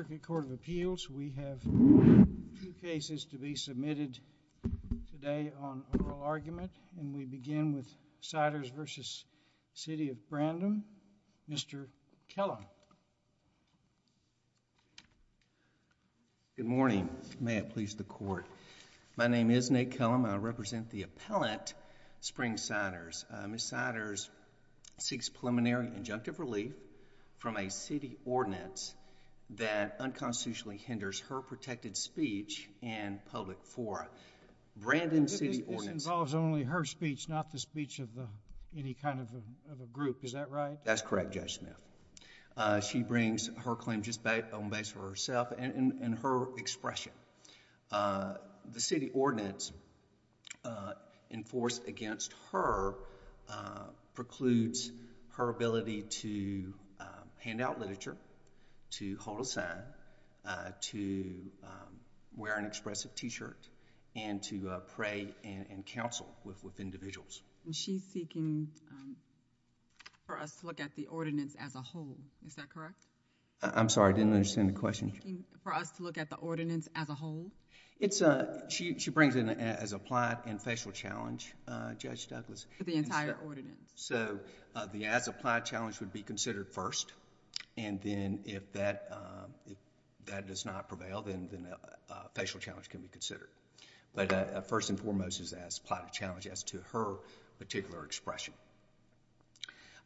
Circuit Court of Appeals, we have two cases to be submitted today on oral argument, and we begin with Siders v. City of Brandon. Mr. Kellum. Good morning. May it please the Court. My name is Nate Kellum, and I represent the appellant, Spring Siders. Ms. Siders seeks preliminary injunctive relief from a city ordinance that unconstitutionally hinders her protected speech in public forum. Brandon City Ordinance. This involves only her speech, not the speech of any kind of a group, is that right? That's correct, Judge Smith. She brings her claim just on base for herself and her expression. The city ordinance enforced against her precludes her ability to hand out literature, to hold a sign, to wear an expressive t-shirt, and to pray and counsel with individuals. She's seeking for us to look at the ordinance as a whole, is that correct? I'm sorry, I didn't understand the question. She's seeking for us to look at the ordinance as a whole? She brings it as a plight and facial challenge, Judge Douglas. The entire ordinance? The as a plight challenge would be considered first, and then if that does not prevail, then a facial challenge can be considered. First and foremost is as a plight and challenge as to her particular expression.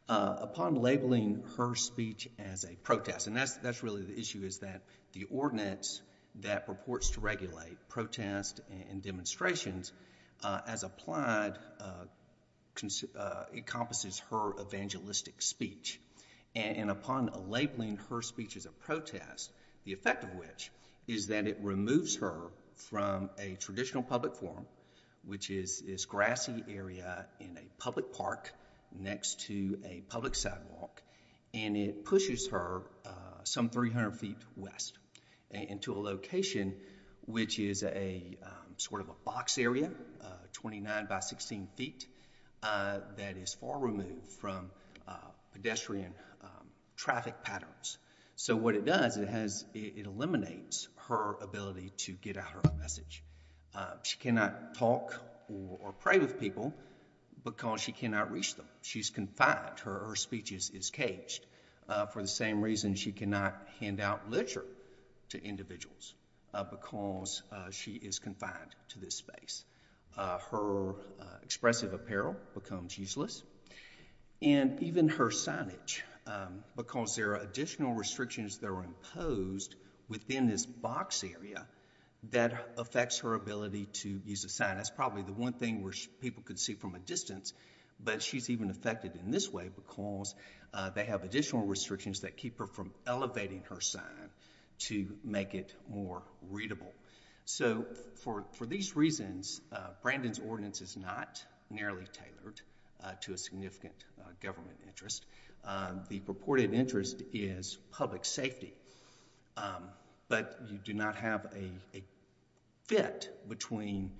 Upon labeling her speech as a protest, and that's really the issue, is that the ordinance that purports to regulate protest and demonstrations as applied encompasses her evangelistic speech. Upon labeling her speech as a protest, the effect of which is that it removes her from a traditional public forum, which is this grassy area in a public park next to a public sidewalk, and it pushes her some 300 feet west into a location which is a sort of a box area, 29 by 16 feet, that is far removed from pedestrian traffic patterns. What it does, it eliminates her ability to get out her message. She cannot talk or pray with people because she cannot reach them. She's confined. Her speech is caged. For the same reason, she cannot hand out literature to individuals because she is confined to this space. Her expressive apparel becomes useless. And even her signage, because there are additional restrictions that are imposed within this box area that affects her ability to use a sign. That's probably the one thing where people could see from a distance, but she's even affected in this way because they have additional restrictions that keep her from elevating her sign to make it more readable. So for these reasons, Brandon's ordinance is not narrowly tailored to a significant government interest. The purported interest is public safety, but you do not have a fit between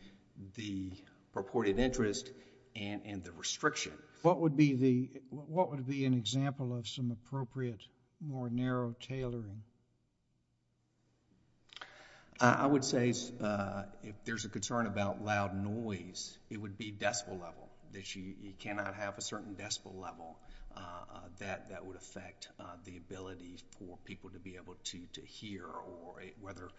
the purported interest and the restriction. What would be an example of some appropriate, more narrow tailoring? I would say if there's a concern about loud noise, it would be decibel level. You cannot have a certain decibel level that would affect the ability for people to be able to hear, whether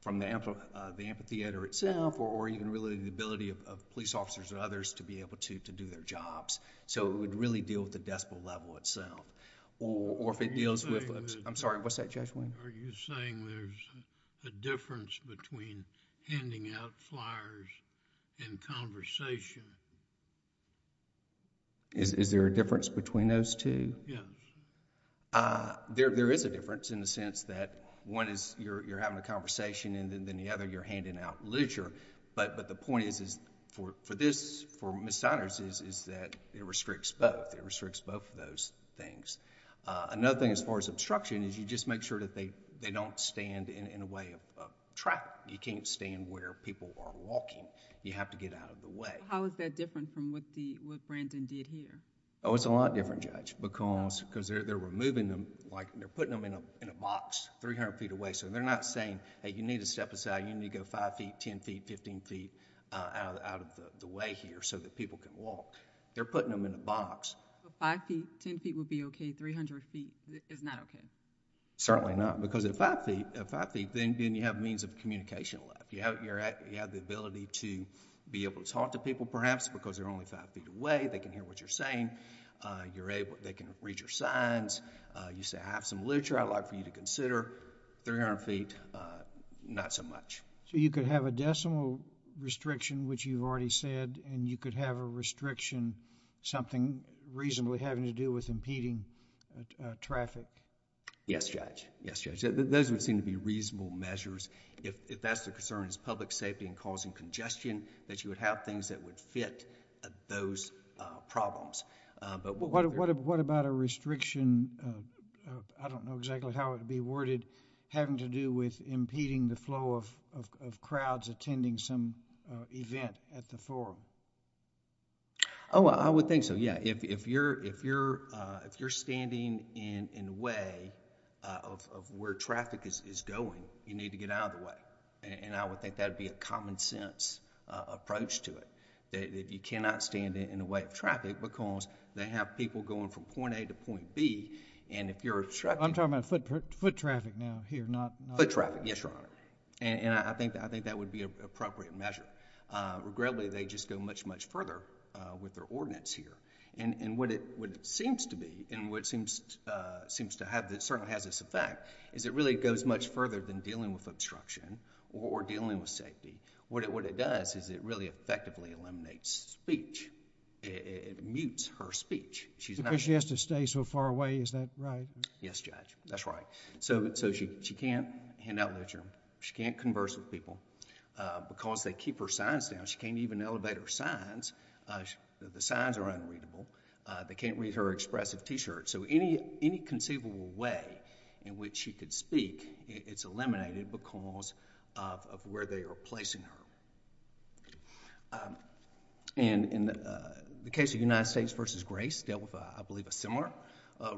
from the amphitheater itself or even really the ability of police officers and others to be able to do their jobs. So it would really deal with the decibel level itself. Or if it deals with... I'm sorry, what's that, Judge Wayne? Are you saying there's a difference between handing out flyers and conversation? Is there a difference between those two? Yes. There is a difference in the sense that one is you're having a conversation and then the other, you're handing out literature, but the point is, for Ms. Siders, is that it restricts both. It restricts both of those things. Another thing as far as obstruction is you just make sure that they don't stand in a way of traffic. You can't stand where people are walking. You have to get out of the way. How is that different from what Brandon did here? Oh, it's a lot different, Judge, because they're removing them, they're putting them in a box 300 feet away. So they're not saying, hey, you need to step aside, you need to go 5 feet, 10 feet, 15 feet out of the way here so that people can walk. They're putting them in a box. So 5 feet, 10 feet would be okay, 300 feet is not okay? Certainly not, because at 5 feet, then you have means of communication left. You have the ability to be able to talk to people, perhaps, because they're only 5 feet away, they can hear what you're saying, they can read your signs, you say I have some literature I'd like for you to consider, 300 feet, not so much. So you could have a decimal restriction, which you've already said, and you could have a restriction, something reasonably having to do with impeding traffic? Yes, Judge. Yes, Judge. Those would seem to be reasonable measures. If that's the concern is public safety and causing congestion, that you would have things that would fit those problems. What about a restriction, I don't know exactly how it would be worded, having to do with crowds attending some event at the forum? Oh, I would think so, yeah. If you're standing in the way of where traffic is going, you need to get out of the way. And I would think that would be a common sense approach to it, that if you cannot stand in the way of traffic, because they have people going from point A to point B, and if you're obstructing... I'm talking about foot traffic now, here, not... Foot traffic, yes, Your Honor. And I think that would be an appropriate measure. Regrettably, they just go much, much further with their ordinance here. And what it seems to be, and what seems to have... it certainly has this effect, is it really goes much further than dealing with obstruction or dealing with safety. What it does is it really effectively eliminates speech. It mutes her speech. She's not... Because she has to stay so far away, is that right? Yes, Judge. That's right. So she can't hand out literature. She can't converse with people. Because they keep her signs down, she can't even elevate her signs. The signs are unreadable. They can't read her expressive T-shirt. So any conceivable way in which she could speak, it's eliminated because of where they are placing her. In the case of United States v. Grace, dealt with, I believe, a similar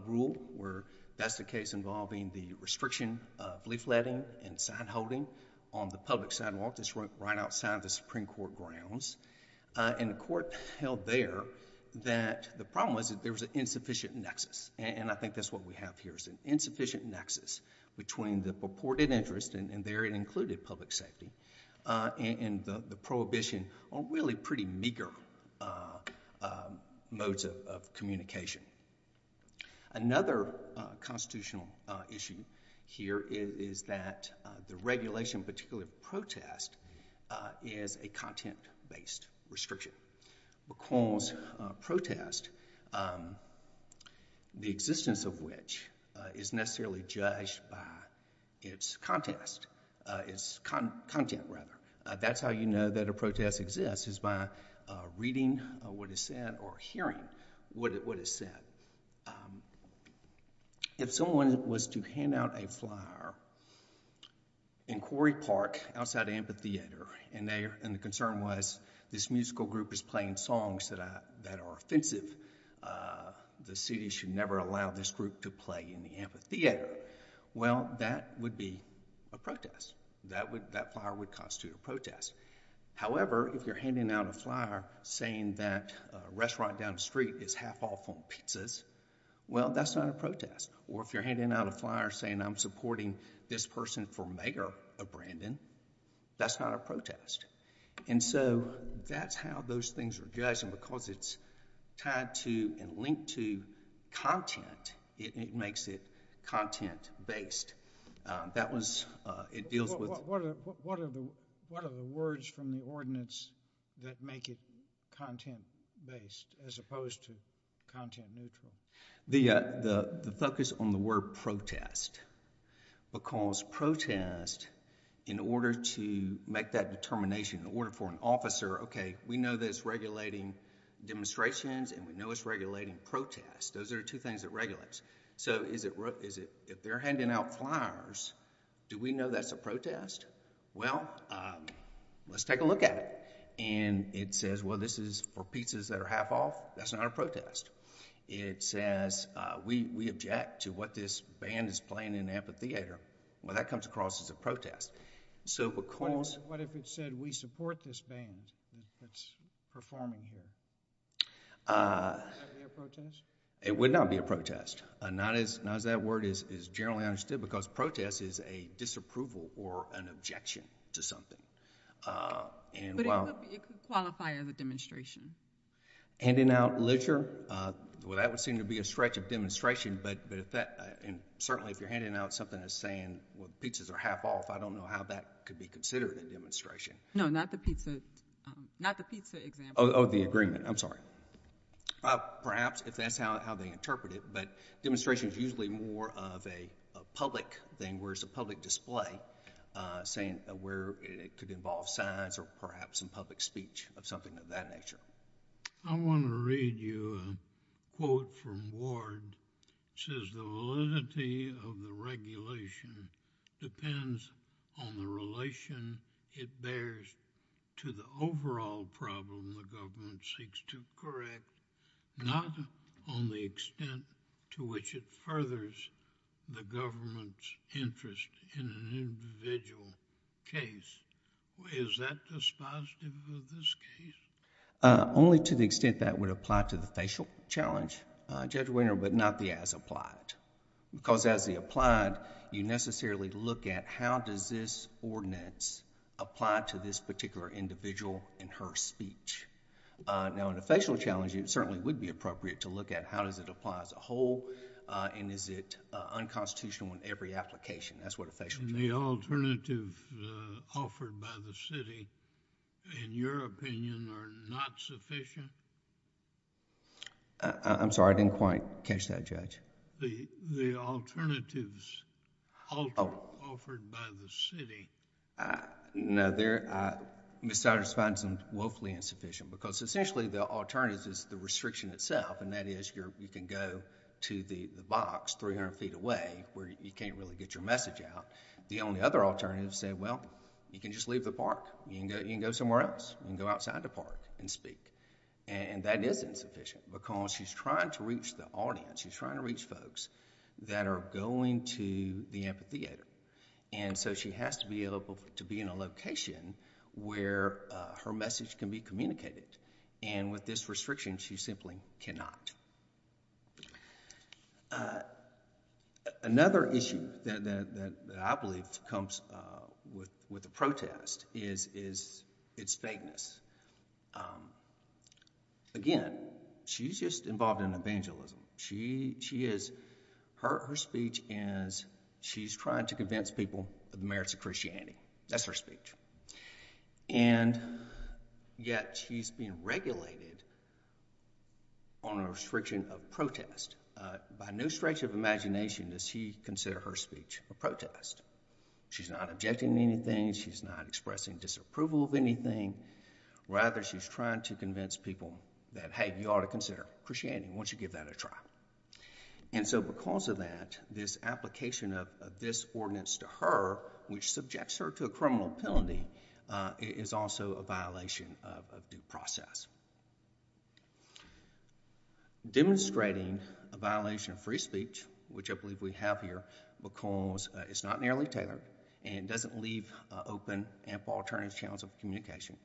rule where that's a case involving the restriction of leafletting and sign-holding on the public sidewalk that's right outside of the Supreme Court grounds. And the court held there that the problem was that there was an insufficient nexus. And I think that's what we have here, is an insufficient nexus between the purported interest, and there it included public safety, and the prohibition on really pretty meager modes of communication. Another constitutional issue here is that the regulation, particularly of protest, is a content-based restriction. Because protest, the existence of which, is necessarily judged by its content. That's how you know that a protest exists, is by reading what is said, or hearing what is said. If someone was to hand out a flyer in Quarry Park, outside the amphitheater, and the concern was this musical group is playing songs that are offensive, the city should never allow this group to play in the amphitheater, well, that would be a protest. That flyer would constitute a protest. However, if you're handing out a flyer saying that a restaurant down the street is half off on pizzas, well, that's not a protest. Or if you're handing out a flyer saying I'm supporting this person for mayor of Brandon, that's not a protest. And so, that's how those things are judged, and because it's tied to and linked to content, it makes it content-based. It deals with... What are the words from the ordinance that make it content-based, as opposed to content-neutral? The focus on the word protest, because protest, in order to make that determination, in order for an officer, okay, we know that it's regulating demonstrations, and we know it's regulating protest. Those are the two things that regulates, so if they're handing out flyers, do we know that's a protest? Well, let's take a look at it, and it says, well, this is for pizzas that are half off. That's not a protest. It says, we object to what this band is playing in the amphitheater, well, that comes across as a protest. What if it said, we support this band that's performing here, would that be a protest? It would not be a protest, not as that word is generally understood, because protest is a disapproval or an objection to something. But it could qualify as a demonstration. Handing out leisure? Well, that would seem to be a stretch of demonstration, but if that, and certainly if you're handing out something that's saying, well, pizzas are half off, I don't know how that could be considered a demonstration. No, not the pizza example. Oh, the agreement. I'm sorry. Perhaps, if that's how they interpret it, but demonstration is usually more of a public thing, where it's a public display, saying, where it could involve signs or perhaps some public speech of something of that nature. I want to read you a quote from Ward, it says, the validity of the regulation depends on the relation it bears to the overall problem the government seeks to correct, not on the individual's interest in an individual case. Is that dispositive of this case? Only to the extent that would apply to the facial challenge, Judge Wiener, but not the as applied. Because as the applied, you necessarily look at how does this ordinance apply to this particular individual in her speech. Now, in a facial challenge, it certainly would be appropriate to look at how does it apply as a whole, and is it unconstitutional in every application. That's what a facial challenge... The alternatives offered by the city, in your opinion, are not sufficient? I'm sorry. I didn't quite catch that, Judge. The alternatives offered by the city. No. Ms. Souders finds them woefully insufficient, because essentially, the alternatives is the to the box, 300 feet away, where you can't really get your message out. The only other alternative is to say, well, you can just leave the park. You can go somewhere else. You can go outside the park and speak. That is insufficient, because she's trying to reach the audience. She's trying to reach folks that are going to the amphitheater. She has to be able to be in a location where her message can be communicated. With this restriction, she simply cannot. Another issue that I believe comes with the protest is its vagueness. Again, she's just involved in evangelism. Her speech is, she's trying to convince people of the merits of Christianity. That's her speech. Yet, she's being regulated on a restriction of protest. By no stretch of imagination does she consider her speech a protest. She's not objecting to anything. She's not expressing disapproval of anything. Rather, she's trying to convince people that, hey, you ought to consider Christianity. Why don't you give that a try? Because of that, this application of this ordinance to her, which subjects her to a felony, is also a violation of due process. Demonstrating a violation of free speech, which I believe we have here, because it's not narrowly tailored and doesn't leave open ample alternative channels of communication,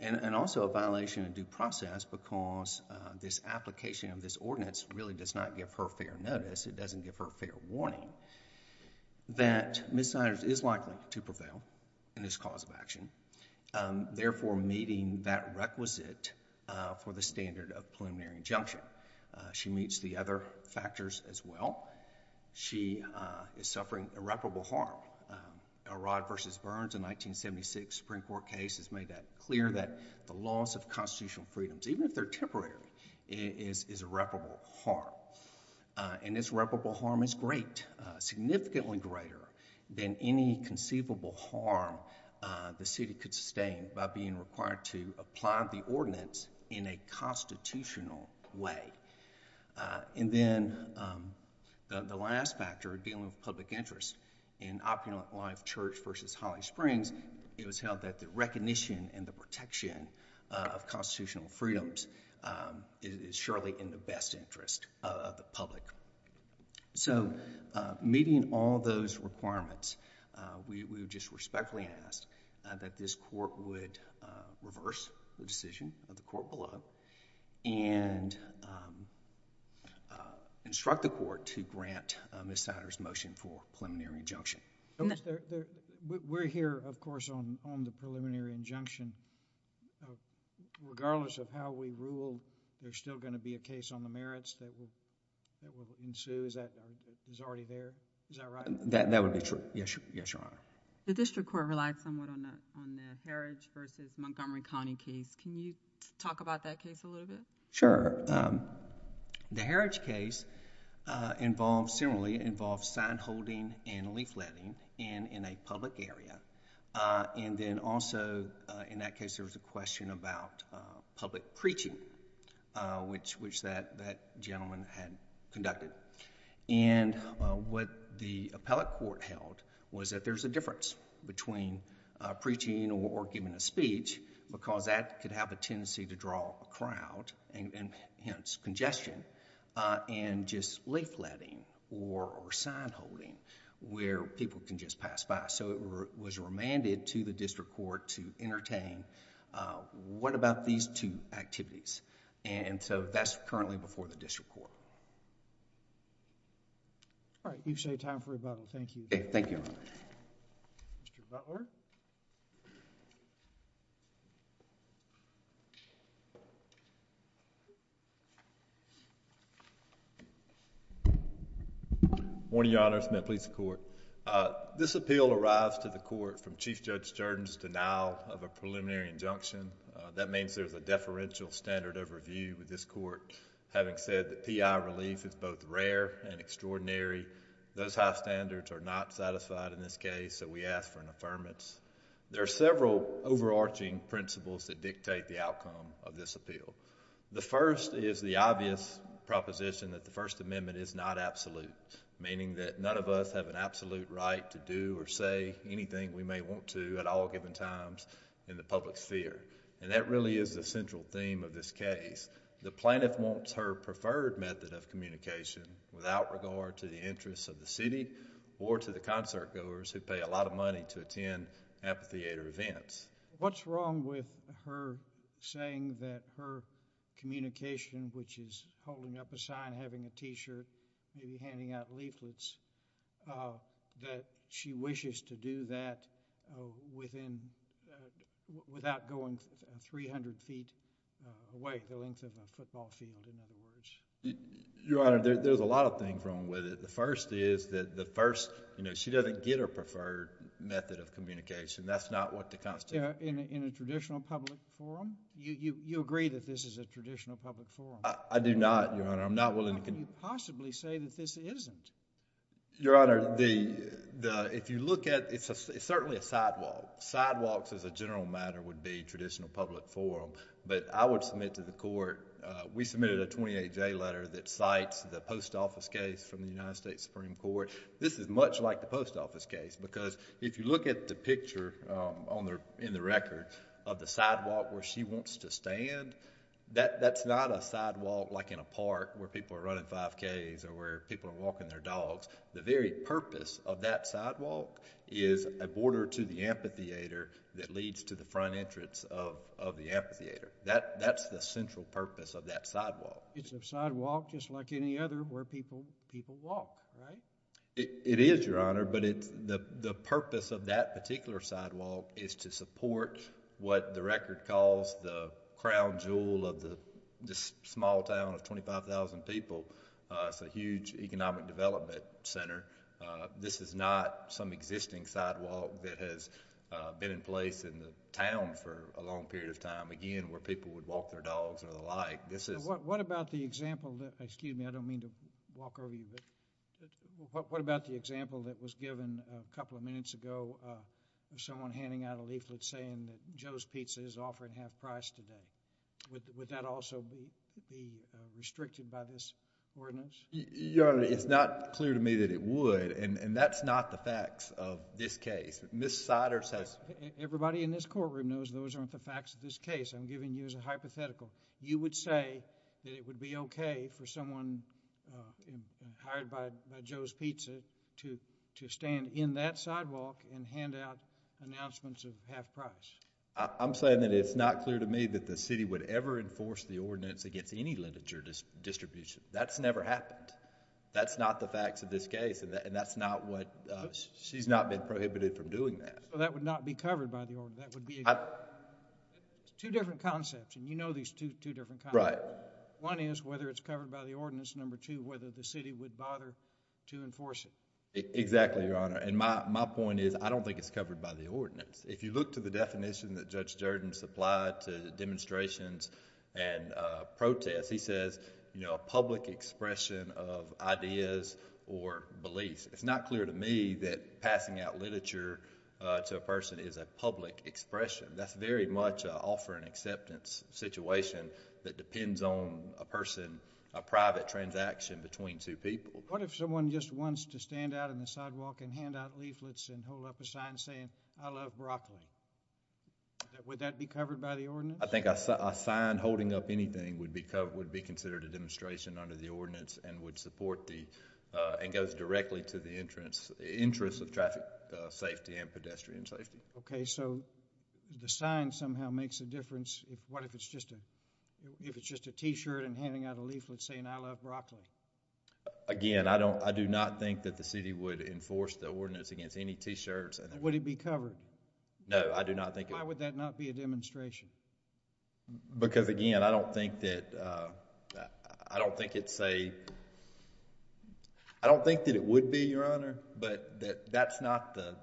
and also a violation of due process, because this application of this ordinance really does not give her fair notice, it doesn't give her fair warning, that misconduct is likely to prevail in this cause of action, therefore meeting that requisite for the standard of preliminary injunction. She meets the other factors as well. She is suffering irreparable harm. Arad v. Burns, a 1976 Supreme Court case, has made that clear, that the loss of constitutional freedoms, even if they're temporary, is irreparable harm. And this irreparable harm is great, significantly greater than any conceivable harm the city could sustain by being required to apply the ordinance in a constitutional way. And then, the last factor, dealing with public interest, in Opulent Life Church v. Holly Springs, it was held that the recognition and the protection of constitutional freedoms is surely in the best interest of the public. So, meeting all those requirements, we would just respectfully ask that this court would reverse the decision of the court below, and instruct the court to grant Ms. Sider's motion for preliminary injunction. In the... We're here, of course, on the preliminary injunction, regardless of how we rule, there's going to be some merits that will ensue, is that... is already there, is that right? That would be true. Yes, Your Honor. The district court relied somewhat on the Heritage v. Montgomery County case. Can you talk about that case a little bit? Sure. The Heritage case involved, similarly, involved sign-holding and leafletting in a public area. And then, also, in that case, there was a question about public preaching, which that gentleman had conducted. And what the appellate court held was that there's a difference between preaching or giving a speech, because that could have a tendency to draw a crowd, and hence, congestion, and just leafletting or sign-holding, where people can just pass by. So, it was remanded to the district court to entertain. What about these two activities? And so, that's currently before the district court. All right. You've saved time for rebuttal. Thank you. Okay. Thank you. Mr. Butler? Morning, Your Honor. Smith, police and court. This appeal arrives to the court from Chief Judge Jordan's denial of a preliminary injunction. That means there's a deferential standard of review with this court, having said that P.I. relief is both rare and extraordinary. Those high standards are not satisfied in this case, so we ask for an affirmance. There are several overarching principles that dictate the outcome of this appeal. The first is the obvious proposition that the First Amendment is not absolute, meaning that none of us have an absolute right to do or say anything we may want to at all given times in the public sphere. And that really is the central theme of this case. The plaintiff wants her preferred method of communication without regard to the interests of the city or to the concertgoers who pay a lot of money to attend amphitheater events. What's wrong with her saying that her communication, which is holding up a sign, having a t-shirt, maybe handing out leaflets, that she wishes to do that without going 300 feet away, the length of a football field in other words? Your Honor, there's a lot of things wrong with it. The first is that she doesn't get her preferred method of communication. That's not what the constitution... In a traditional public forum? You agree that this is a traditional public forum? I do not, Your Honor. I'm not willing to... How can you possibly say that this isn't? Your Honor, if you look at... it's certainly a sidewalk. Sidewalks as a general matter would be traditional public forum, but I would submit to the court... we submitted a 28-J letter that cites the post office case from the United States Supreme Court. This is much like the post office case because if you look at the picture in the record of the sidewalk where she wants to stand, that's not a sidewalk like in a park where people are running 5Ks or where people are walking their dogs. The very purpose of that sidewalk is a border to the amphitheater that leads to the front entrance of the amphitheater. That's the central purpose of that sidewalk. It's a sidewalk just like any other where people walk, right? It is, Your Honor, but the purpose of that particular sidewalk is to support what the record calls the crown jewel of this small town of 25,000 people. It's a huge economic development center. This is not some existing sidewalk that has been in place in the town for a long period of time. Again, where people would walk their dogs or the like. What about the example... excuse me, I don't mean to walk over you, but what about the example that was given a couple of minutes ago of someone handing out a leaflet saying that Joe's Pizza is offering half price today? Would that also be restricted by this ordinance? Your Honor, it's not clear to me that it would, and that's not the facts of this case. Ms. Siders has... Everybody in this courtroom knows those aren't the facts of this case. I'm giving you as a hypothetical. You would say that it would be okay for someone hired by Joe's Pizza to stand in that sidewalk and hand out announcements of half price. I'm saying that it's not clear to me that the city would ever enforce the ordinance against any litigature distribution. That's never happened. That's not the facts of this case, and that's not what... she's not been prohibited from doing that. So that would not be covered by the ordinance. That would be... two different concepts, and you know these two different concepts. Right. One is whether it's covered by the ordinance. Number two, whether the city would bother to enforce it. Exactly, Your Honor. My point is, I don't think it's covered by the ordinance. If you look to the definition that Judge Jordan supplied to demonstrations and protests, he says a public expression of ideas or beliefs. It's not clear to me that passing out literature to a person is a public expression. That's very much an offer and acceptance situation that depends on a person, a private transaction between two people. What if someone just wants to stand out on the sidewalk and hand out leaflets and hold up a sign saying, I love broccoli? Would that be covered by the ordinance? I think a sign holding up anything would be considered a demonstration under the ordinance and would support the... and goes directly to the interests of traffic safety and pedestrian safety. Okay, so the sign somehow makes a difference. What if it's just a T-shirt and handing out a leaflet saying, I love broccoli? Again, I do not think that the city would enforce the ordinance against any T-shirts. Would it be covered? No, I do not think... Why would that not be a demonstration? Because again, I don't think it's a... I don't think that it would be, Your Honor, but that's not the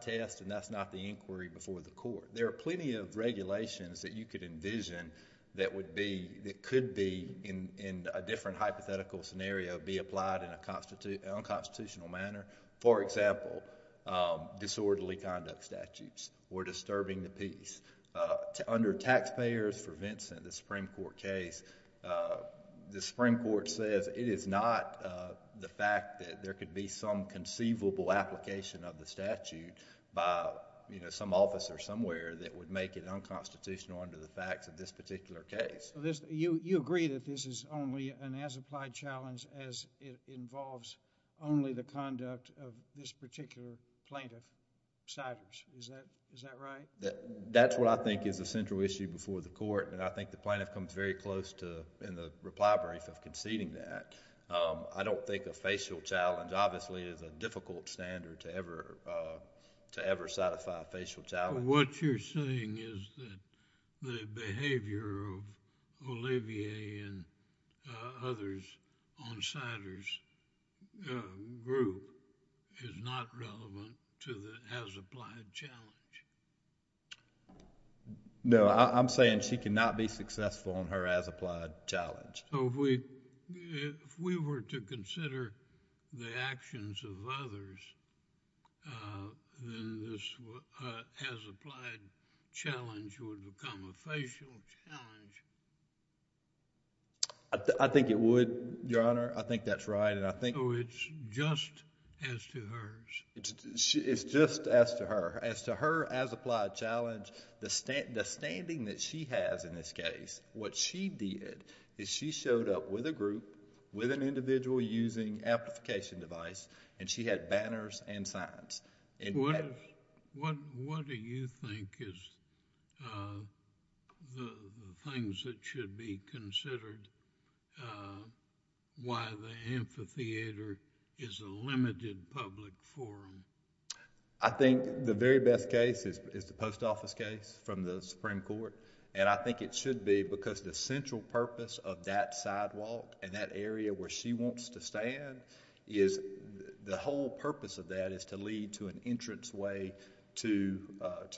test and that's not the inquiry before the court. There are plenty of regulations that you could envision that would be... that could be in a different hypothetical scenario be applied in a unconstitutional manner. For example, disorderly conduct statutes were disturbing the peace. Under taxpayers for Vincent, the Supreme Court case, the Supreme Court says it is not the fact that there could be some conceivable application of the statute by some office or somewhere that would make it unconstitutional under the facts of this particular case. You agree that this is only an as-applied challenge as it involves only the conduct of this particular plaintiff's citers, is that right? That's what I think is a central issue before the court and I think the plaintiff comes very close to, in the reply brief, of conceding that. I don't think a facial challenge obviously is a difficult standard to ever citify a facial challenge. What you're saying is that the behavior of Olivier and others on Cider's group is not relevant to the as-applied challenge? No, I'm saying she cannot be successful in her as-applied challenge. If we were to consider the actions of others, then this as-applied challenge would become a facial challenge? I think it would, Your Honor. I think that's right. It's just as to hers. It's just as to her. As to her as-applied challenge, the standing that she has in this case, what she did is she showed up with a group, with an individual using amplification device, and she had banners and signs. What do you think is the things that should be considered why the amphitheater is a limited public forum? I think the very best case is the post office case from the Supreme Court and I think it The whole purpose of that is to lead to an entrance way to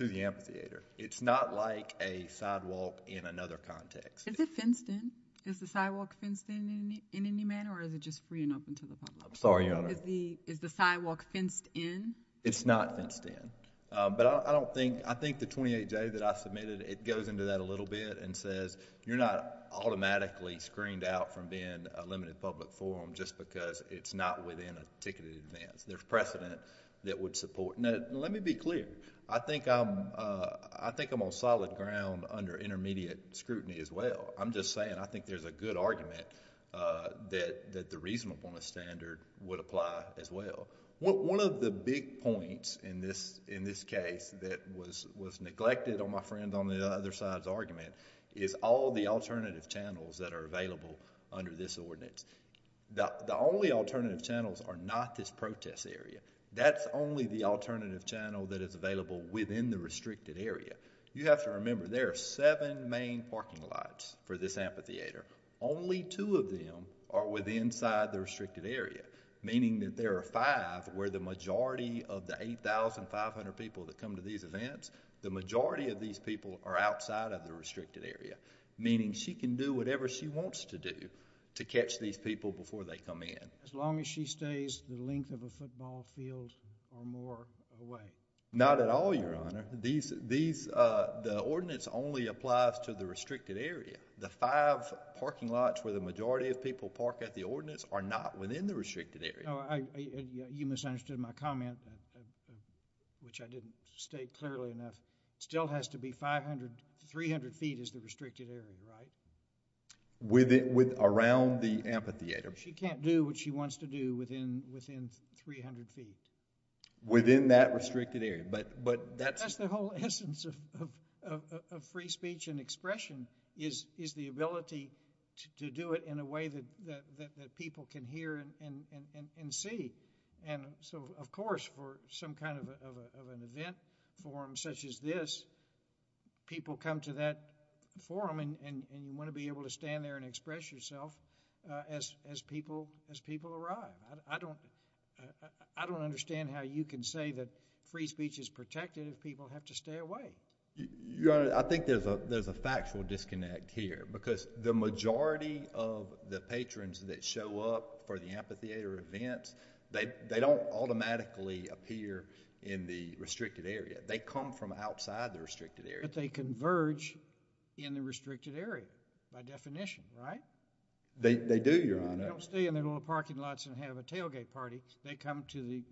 the amphitheater. It's not like a sidewalk in another context. Is it fenced in? Is the sidewalk fenced in in any manner or is it just free and open to the public? I'm sorry, Your Honor. Is the sidewalk fenced in? It's not fenced in. But I don't think, I think the 28-J that I submitted, it goes into that a little bit and says you're not automatically screened out from being a limited public forum just because it's not within a ticketed advance. There's precedent that would support. Let me be clear. I think I'm on solid ground under intermediate scrutiny as well. I'm just saying I think there's a good argument that the reasonableness standard would apply as well. One of the big points in this case that was neglected on my friend on the other side's is all the alternative channels that are available under this ordinance. The only alternative channels are not this protest area. That's only the alternative channel that is available within the restricted area. You have to remember there are seven main parking lots for this amphitheater. Only two of them are with inside the restricted area, meaning that there are five where the majority of the 8,500 people that come to these events, the majority of these people are outside of the restricted area, meaning she can do whatever she wants to do to catch these people before they come in. As long as she stays the length of a football field or more away. Not at all, Your Honor. The ordinance only applies to the restricted area. The five parking lots where the majority of people park at the ordinance are not within the restricted area. You misunderstood my comment, which I didn't state clearly enough. Still has to be 300 feet is the restricted area, right? With around the amphitheater. She can't do what she wants to do within 300 feet. Within that restricted area. But that's the whole essence of free speech and expression is the ability to do it in a way that people can hear and see. And so, of course, for some kind of an event forum such as this, people come to that forum and you want to be able to stand there and express yourself as people arrive. I don't understand how you can say that free speech is protected if people have to stay away. Your Honor, I think there's a factual disconnect here because the majority of the patrons that they don't automatically appear in the restricted area. They come from outside the restricted area. But they converge in the restricted area by definition, right? They do, Your Honor. They don't stay in their little parking lots and have a tailgate party. They come to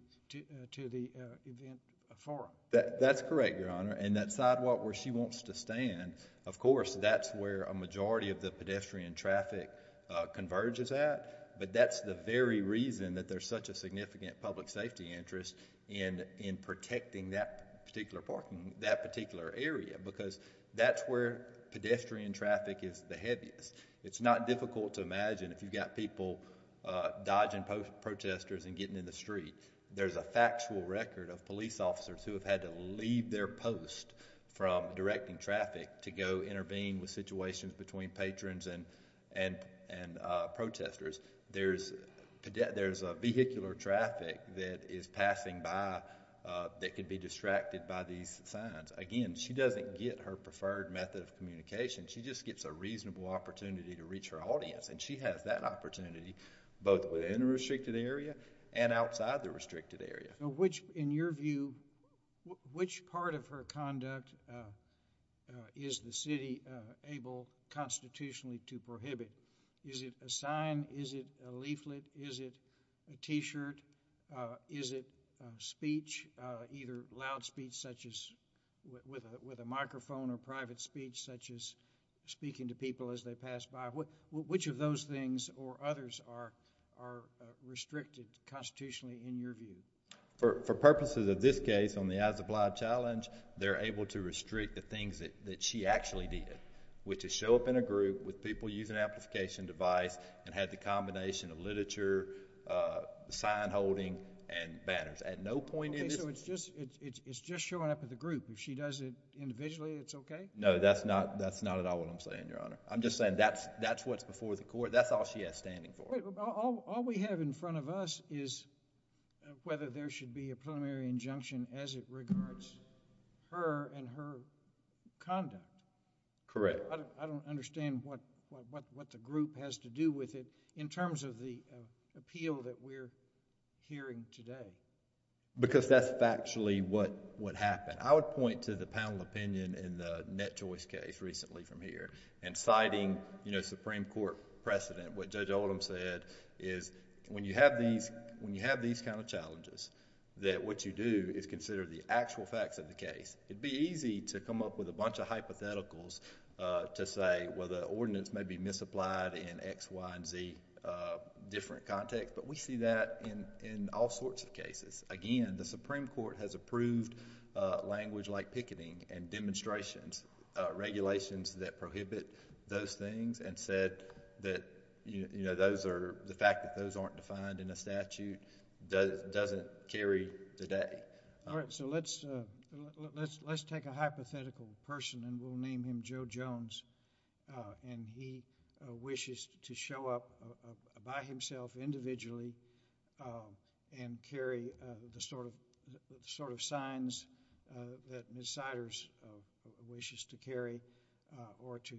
the event forum. That's correct, Your Honor, and that sidewalk where she wants to stand, of course, that's where a majority of the pedestrian traffic converges at, but that's the very reason that there's such a significant public safety interest in protecting that particular parking, that particular area, because that's where pedestrian traffic is the heaviest. It's not difficult to imagine if you've got people dodging protesters and getting in the street. There's a factual record of police officers who have had to leave their post from directing traffic to go intervene with situations between patrons and protesters. There's vehicular traffic that is passing by that could be distracted by these signs. Again, she doesn't get her preferred method of communication. She just gets a reasonable opportunity to reach her audience, and she has that opportunity both within the restricted area and outside the restricted area. In your view, which part of her conduct is the city able constitutionally to prohibit? Is it a sign? Is it a leaflet? Is it a t-shirt? Is it speech, either loud speech such as with a microphone or private speech such as speaking to people as they pass by? Which of those things or others are restricted constitutionally in your view? For purposes of this case on the as-applied challenge, they're able to restrict the things that she actually did, which is show up in a group with people using amplification device and have the combination of literature, sign holding, and banners. At no point... Okay. So it's just showing up at the group. If she does it individually, it's okay? No. That's not at all what I'm saying, Your Honor. I'm just saying that's what's before the court. That's all she has standing for. All we have in front of us is whether there should be a preliminary injunction as it regards her and her conduct. Correct. I don't understand what the group has to do with it in terms of the appeal that we're hearing today. Because that's factually what happened. I would point to the panel opinion in the Net Choice case recently from here and citing Supreme Court precedent, what Judge Oldham said is when you have these kind of challenges that what you do is consider the actual facts of the case. It'd be easy to come up with a bunch of hypotheticals to say, well, the ordinance may be misapplied in X, Y, and Z different contexts, but we see that in all sorts of cases. Again, the Supreme Court has approved language like picketing and demonstrations, regulations that prohibit those things, and said that the fact that those aren't defined in a statute doesn't carry today. All right, so let's take a hypothetical person, and we'll name him Joe Jones, and he wishes to show up by himself individually and carry the sort of signs that Ms. Siders wishes to carry or to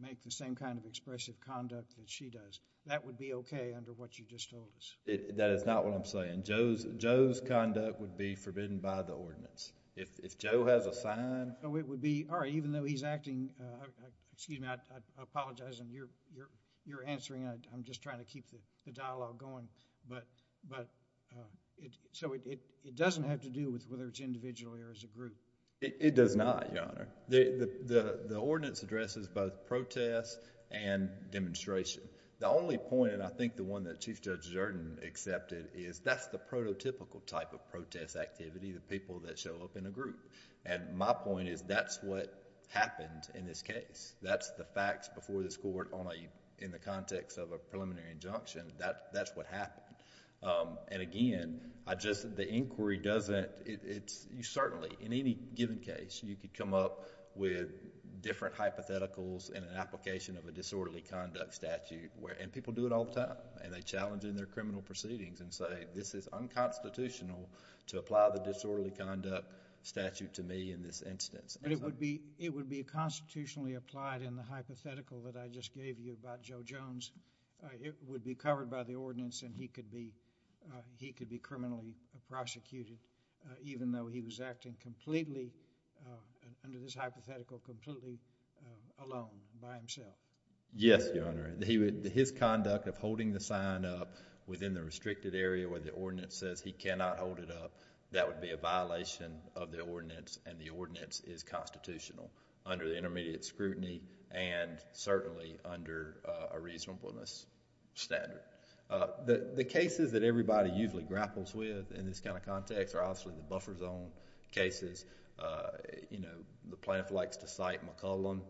make the same kind of expressive conduct that she does. That would be okay under what you just told us. That is not what I'm saying. Joe's conduct would be forbidden by the ordinance. If Joe has a sign... Oh, it would be, all right, even though he's acting... excuse me, I apologize on your answering. I'm just trying to keep the dialogue going, so it doesn't have to do with whether it's individually or as a group. It does not, Your Honor. The ordinance addresses both protests and demonstration. The only point, and I think the one that Chief Judge Zerden accepted, is that's the prototypical type of protest activity, the people that show up in a group. My point is that's what happened in this case. That's the facts before this court in the context of a preliminary injunction. That's what happened. Again, I just... the inquiry doesn't... you certainly, in any given case, you could come up with different hypotheticals in an application of a disorderly conduct statute. People do it all the time. They challenge it in their criminal proceedings and say, this is unconstitutional to apply the disorderly conduct statute to me in this instance. It would be constitutionally applied in the hypothetical that I just gave you about Joe Jones. It would be covered by the ordinance and he could be criminally prosecuted, even though he was acting completely, under this hypothetical, completely alone by himself. Yes, Your Honor. His conduct of holding the sign up within the restricted area where the ordinance says he cannot hold it up, that would be a violation of the ordinance and the ordinance is constitutional under the intermediate scrutiny and certainly under a reasonableness standard. The cases that everybody usually grapples with in this kind of context are obviously the buffer zone cases. The plaintiff likes to cite McClellan.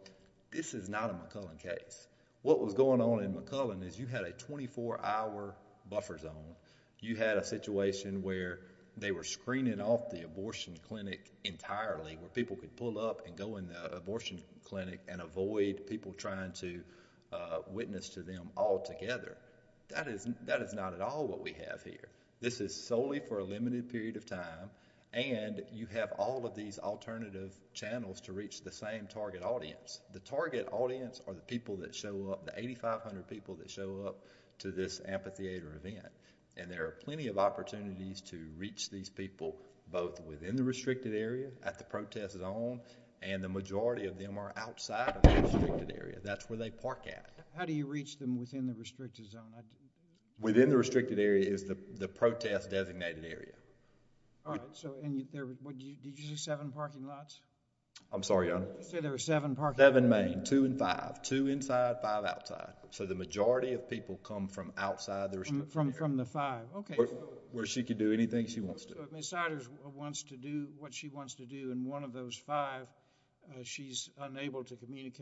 This is not a McClellan case. What was going on in McClellan is you had a twenty-four hour buffer zone. You had a situation where they were screening off the abortion clinic entirely, where people could pull up and go in the abortion clinic and avoid people trying to witness to them altogether. That is not at all what we have here. This is solely for a limited period of time and you have all of these alternative channels to reach the same target audience. The target audience are the people that show up, the eighty-five hundred people that show up to this amphitheater event and there are plenty of opportunities to reach these people both within the restricted area at the protest zone and the majority of them are outside of the restricted area. That's where they park at. How do you reach them within the restricted zone? Within the restricted area is the protest designated area. All right. Did you say seven parking lots? I'm sorry, Your Honor. You said there were seven parking lots. Seven main. Two in five. Two inside. Five outside. So the majority of people come from outside the restricted area. From the five. Okay. Where she could do anything she wants to. So if Ms. Siders wants to do what she wants to do in one of those five, she's unable to reach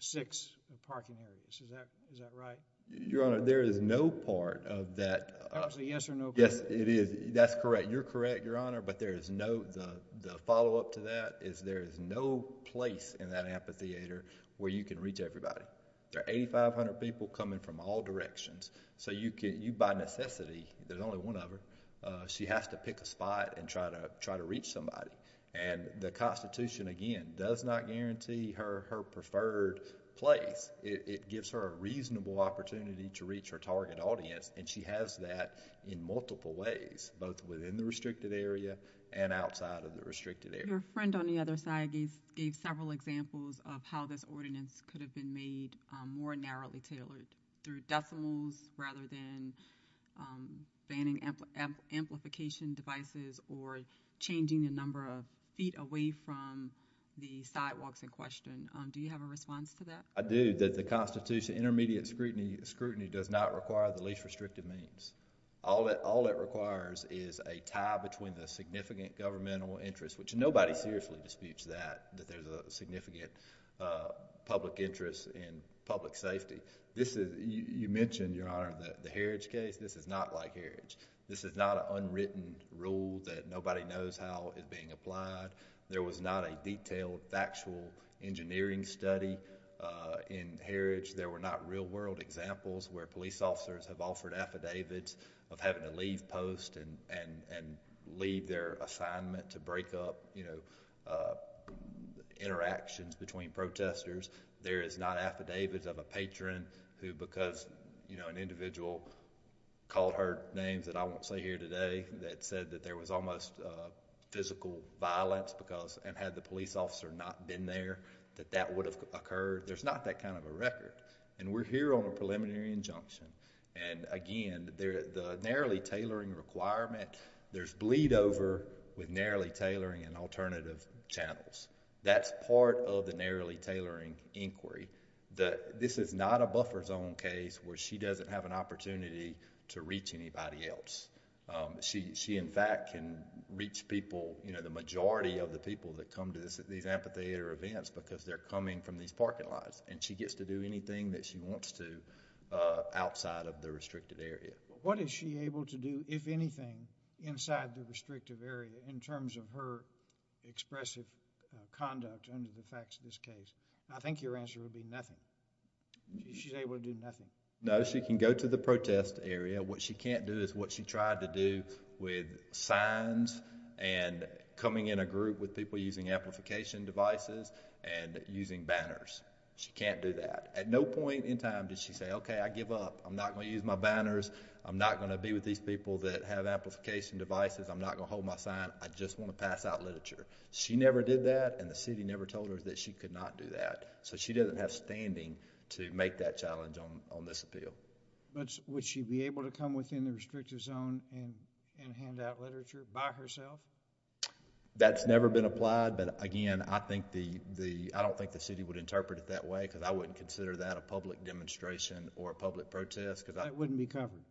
six parking areas. Is that right? Your Honor, there is no part of that. Obviously, yes or no part. Yes, it is. That's correct. You're correct, Your Honor, but there is no, the follow-up to that is there is no place in that amphitheater where you can reach everybody. There are eighty-five hundred people coming from all directions. So you can, you by necessity, there's only one of her, she has to pick a spot and try to reach somebody. And the Constitution, again, does not guarantee her her preferred place. It gives her a reasonable opportunity to reach her target audience and she has that in multiple ways both within the restricted area and outside of the restricted area. Your friend on the other side gave several examples of how this ordinance could have been made more narrowly tailored through decimals rather than banning amplification devices or changing the number of feet away from the sidewalks in question. Do you have a response to that? I do. That the Constitution, intermediate scrutiny does not require the least restrictive means. All it requires is a tie between the significant governmental interest, which nobody seriously disputes that, that there's a significant public interest in public safety. This is, you mentioned, Your Honor, the Heritage case. This is not like Heritage. This is not an unwritten rule that nobody knows how it's being applied. There was not a detailed factual engineering study in Heritage. There were not real world examples where police officers have offered affidavits of having to leave post and leave their assignment to break up, you know, interactions between protesters. There is not affidavits of a patron who, because, you know, an individual called her names that I won't say here today, that said that there was almost physical violence because, and had the police officer not been there, that that would have occurred. There's not that kind of a record. And we're here on a preliminary injunction, and again, the narrowly tailoring requirement, there's bleed over with narrowly tailoring and alternative channels. That's part of the narrowly tailoring inquiry. This is not a buffer zone case where she doesn't have an opportunity to reach anybody else. She in fact can reach people, you know, the majority of the people that come to these amphitheater events because they're coming from these parking lots, and she gets to do anything that she wants to outside of the restricted area. What is she able to do, if anything, inside the restrictive area in terms of her expressive conduct under the facts of this case? I think your answer would be nothing. She's able to do nothing. No, she can go to the protest area. What she can't do is what she tried to do with signs and coming in a group with people using amplification devices and using banners. She can't do that. At no point in time did she say, okay, I give up. I'm not going to use my banners. I'm not going to be with these people that have amplification devices. I'm not going to hold my sign. I just want to pass out literature. She never did that, and the city never told her that she could not do that. So she doesn't have standing to make that challenge on this appeal. Would she be able to come within the restrictive zone and hand out literature by herself? That's never been applied, but again, I don't think the city would interpret it that way because I wouldn't consider that a public demonstration or a public protest. It wouldn't be covered.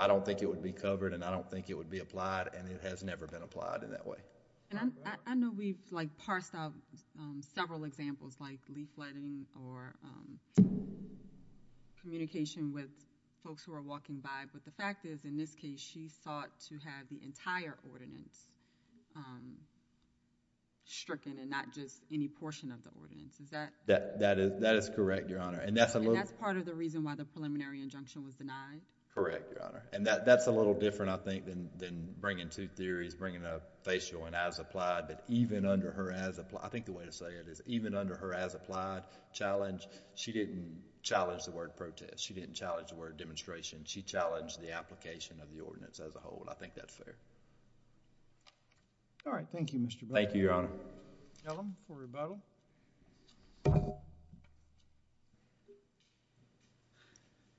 I don't think it would be covered, and I don't think it would be applied, and it has never been applied in that way. I know we've parsed out several examples like leafletting or communication with folks who are walking by, but the fact is, in this case, she sought to have the entire ordinance stricken and not just any portion of the ordinance. That is correct, Your Honor, and that's a little... And that's part of the reason why the preliminary injunction was denied? Correct, Your Honor, and that's a little different, I think, than bringing two theories, bringing a facial and as applied, but even under her as... I think the way to say it is even under her as applied challenge, she didn't challenge the word protest. She didn't challenge the word demonstration. She challenged the application of the ordinance as a whole, and I think that's fair. All right. Thank you, Mr. Blackburn. Thank you, Your Honor. Mr. Ellum for rebuttal.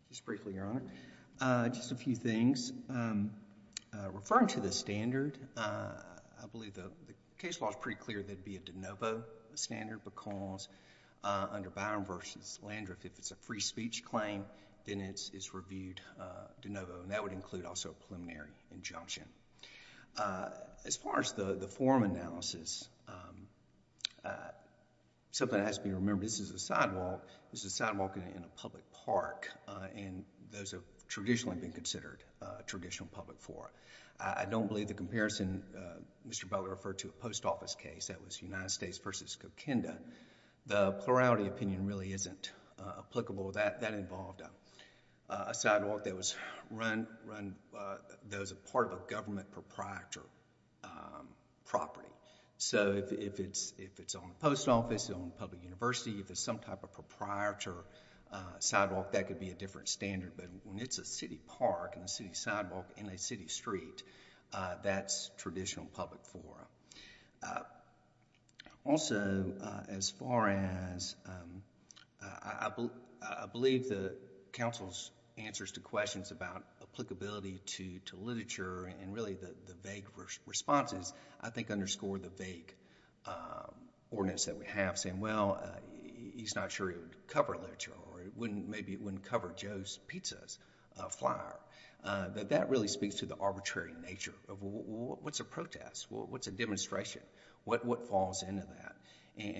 Just briefly, Your Honor. Just a few things. Referring to the standard, I believe the case law is pretty clear that it'd be a de novo standard because under Byron v. Landriff, if it's a free speech claim, then it's reviewed de novo, and that would include also a preliminary injunction. As far as the form analysis, something has to be remembered. This is a sidewalk. This is a sidewalk in a public park, and those have traditionally been considered a traditional public forum. I don't believe the comparison, Mr. Butler referred to a post office case that was United States v. Coquinda. The plurality opinion really isn't applicable. That involved a sidewalk that was part of a government proprietor property. So if it's on the post office, on a public university, if it's some type of proprietor sidewalk, that could be a different standard, but when it's a city park and a city sidewalk in a city street, that's traditional public forum. Also, as far as... I believe the counsel's answers to questions about applicability to literature and really the vague responses, I think underscore the vague ordinance that we have saying, well, he's not sure it would cover literature, or maybe it wouldn't cover Joe's pizza flyer. That really speaks to the arbitrary nature of what's a protest, what's a demonstration, what falls into that.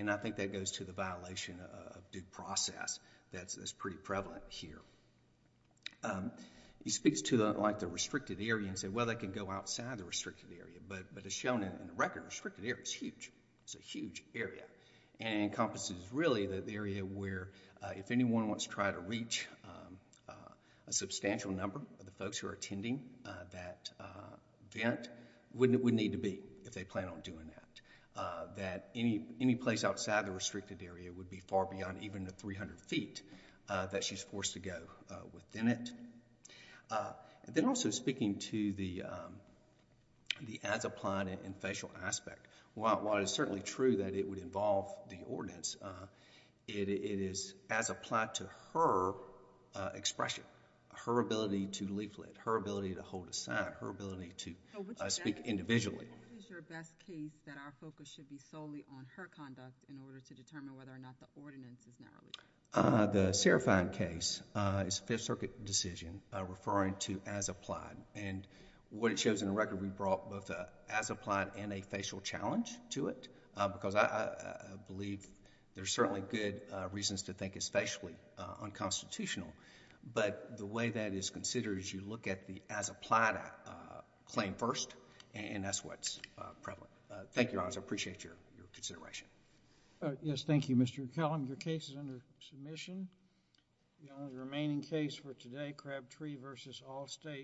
I think that goes to the violation of due process that's pretty prevalent here. He speaks to the restricted area and said, well, they can go outside the restricted area, but as shown in the record, the restricted area is huge. It's a huge area, and encompasses really the area where if anyone wants to try to reach a substantial number of the folks who are attending that event, wouldn't need to be if they plan on doing that. Any place outside the restricted area would be far beyond even the 300 feet that she's forced to go within it. Then also speaking to the as applied and facial aspect, while it is certainly true that it would involve the ordinance, it is as applied to her expression, her ability to leaflet, her ability to hold a sign, her ability to speak individually. What is your best case that our focus should be solely on her conduct in order to determine whether or not the ordinance is narrowly? The Seraphine case is a Fifth Circuit decision referring to as applied. What it shows in the record, we brought both as applied and a facial challenge to it, because I believe there's certainly good reasons to think it's facially unconstitutional, but the way that it's considered is you look at the as applied claim first, and that's what's prevalent. Thank you, Your Honors. I appreciate your consideration. Yes. Thank you, Mr. McCallum. Your case is under submission. The only remaining case for today, Crabtree v. Allstate.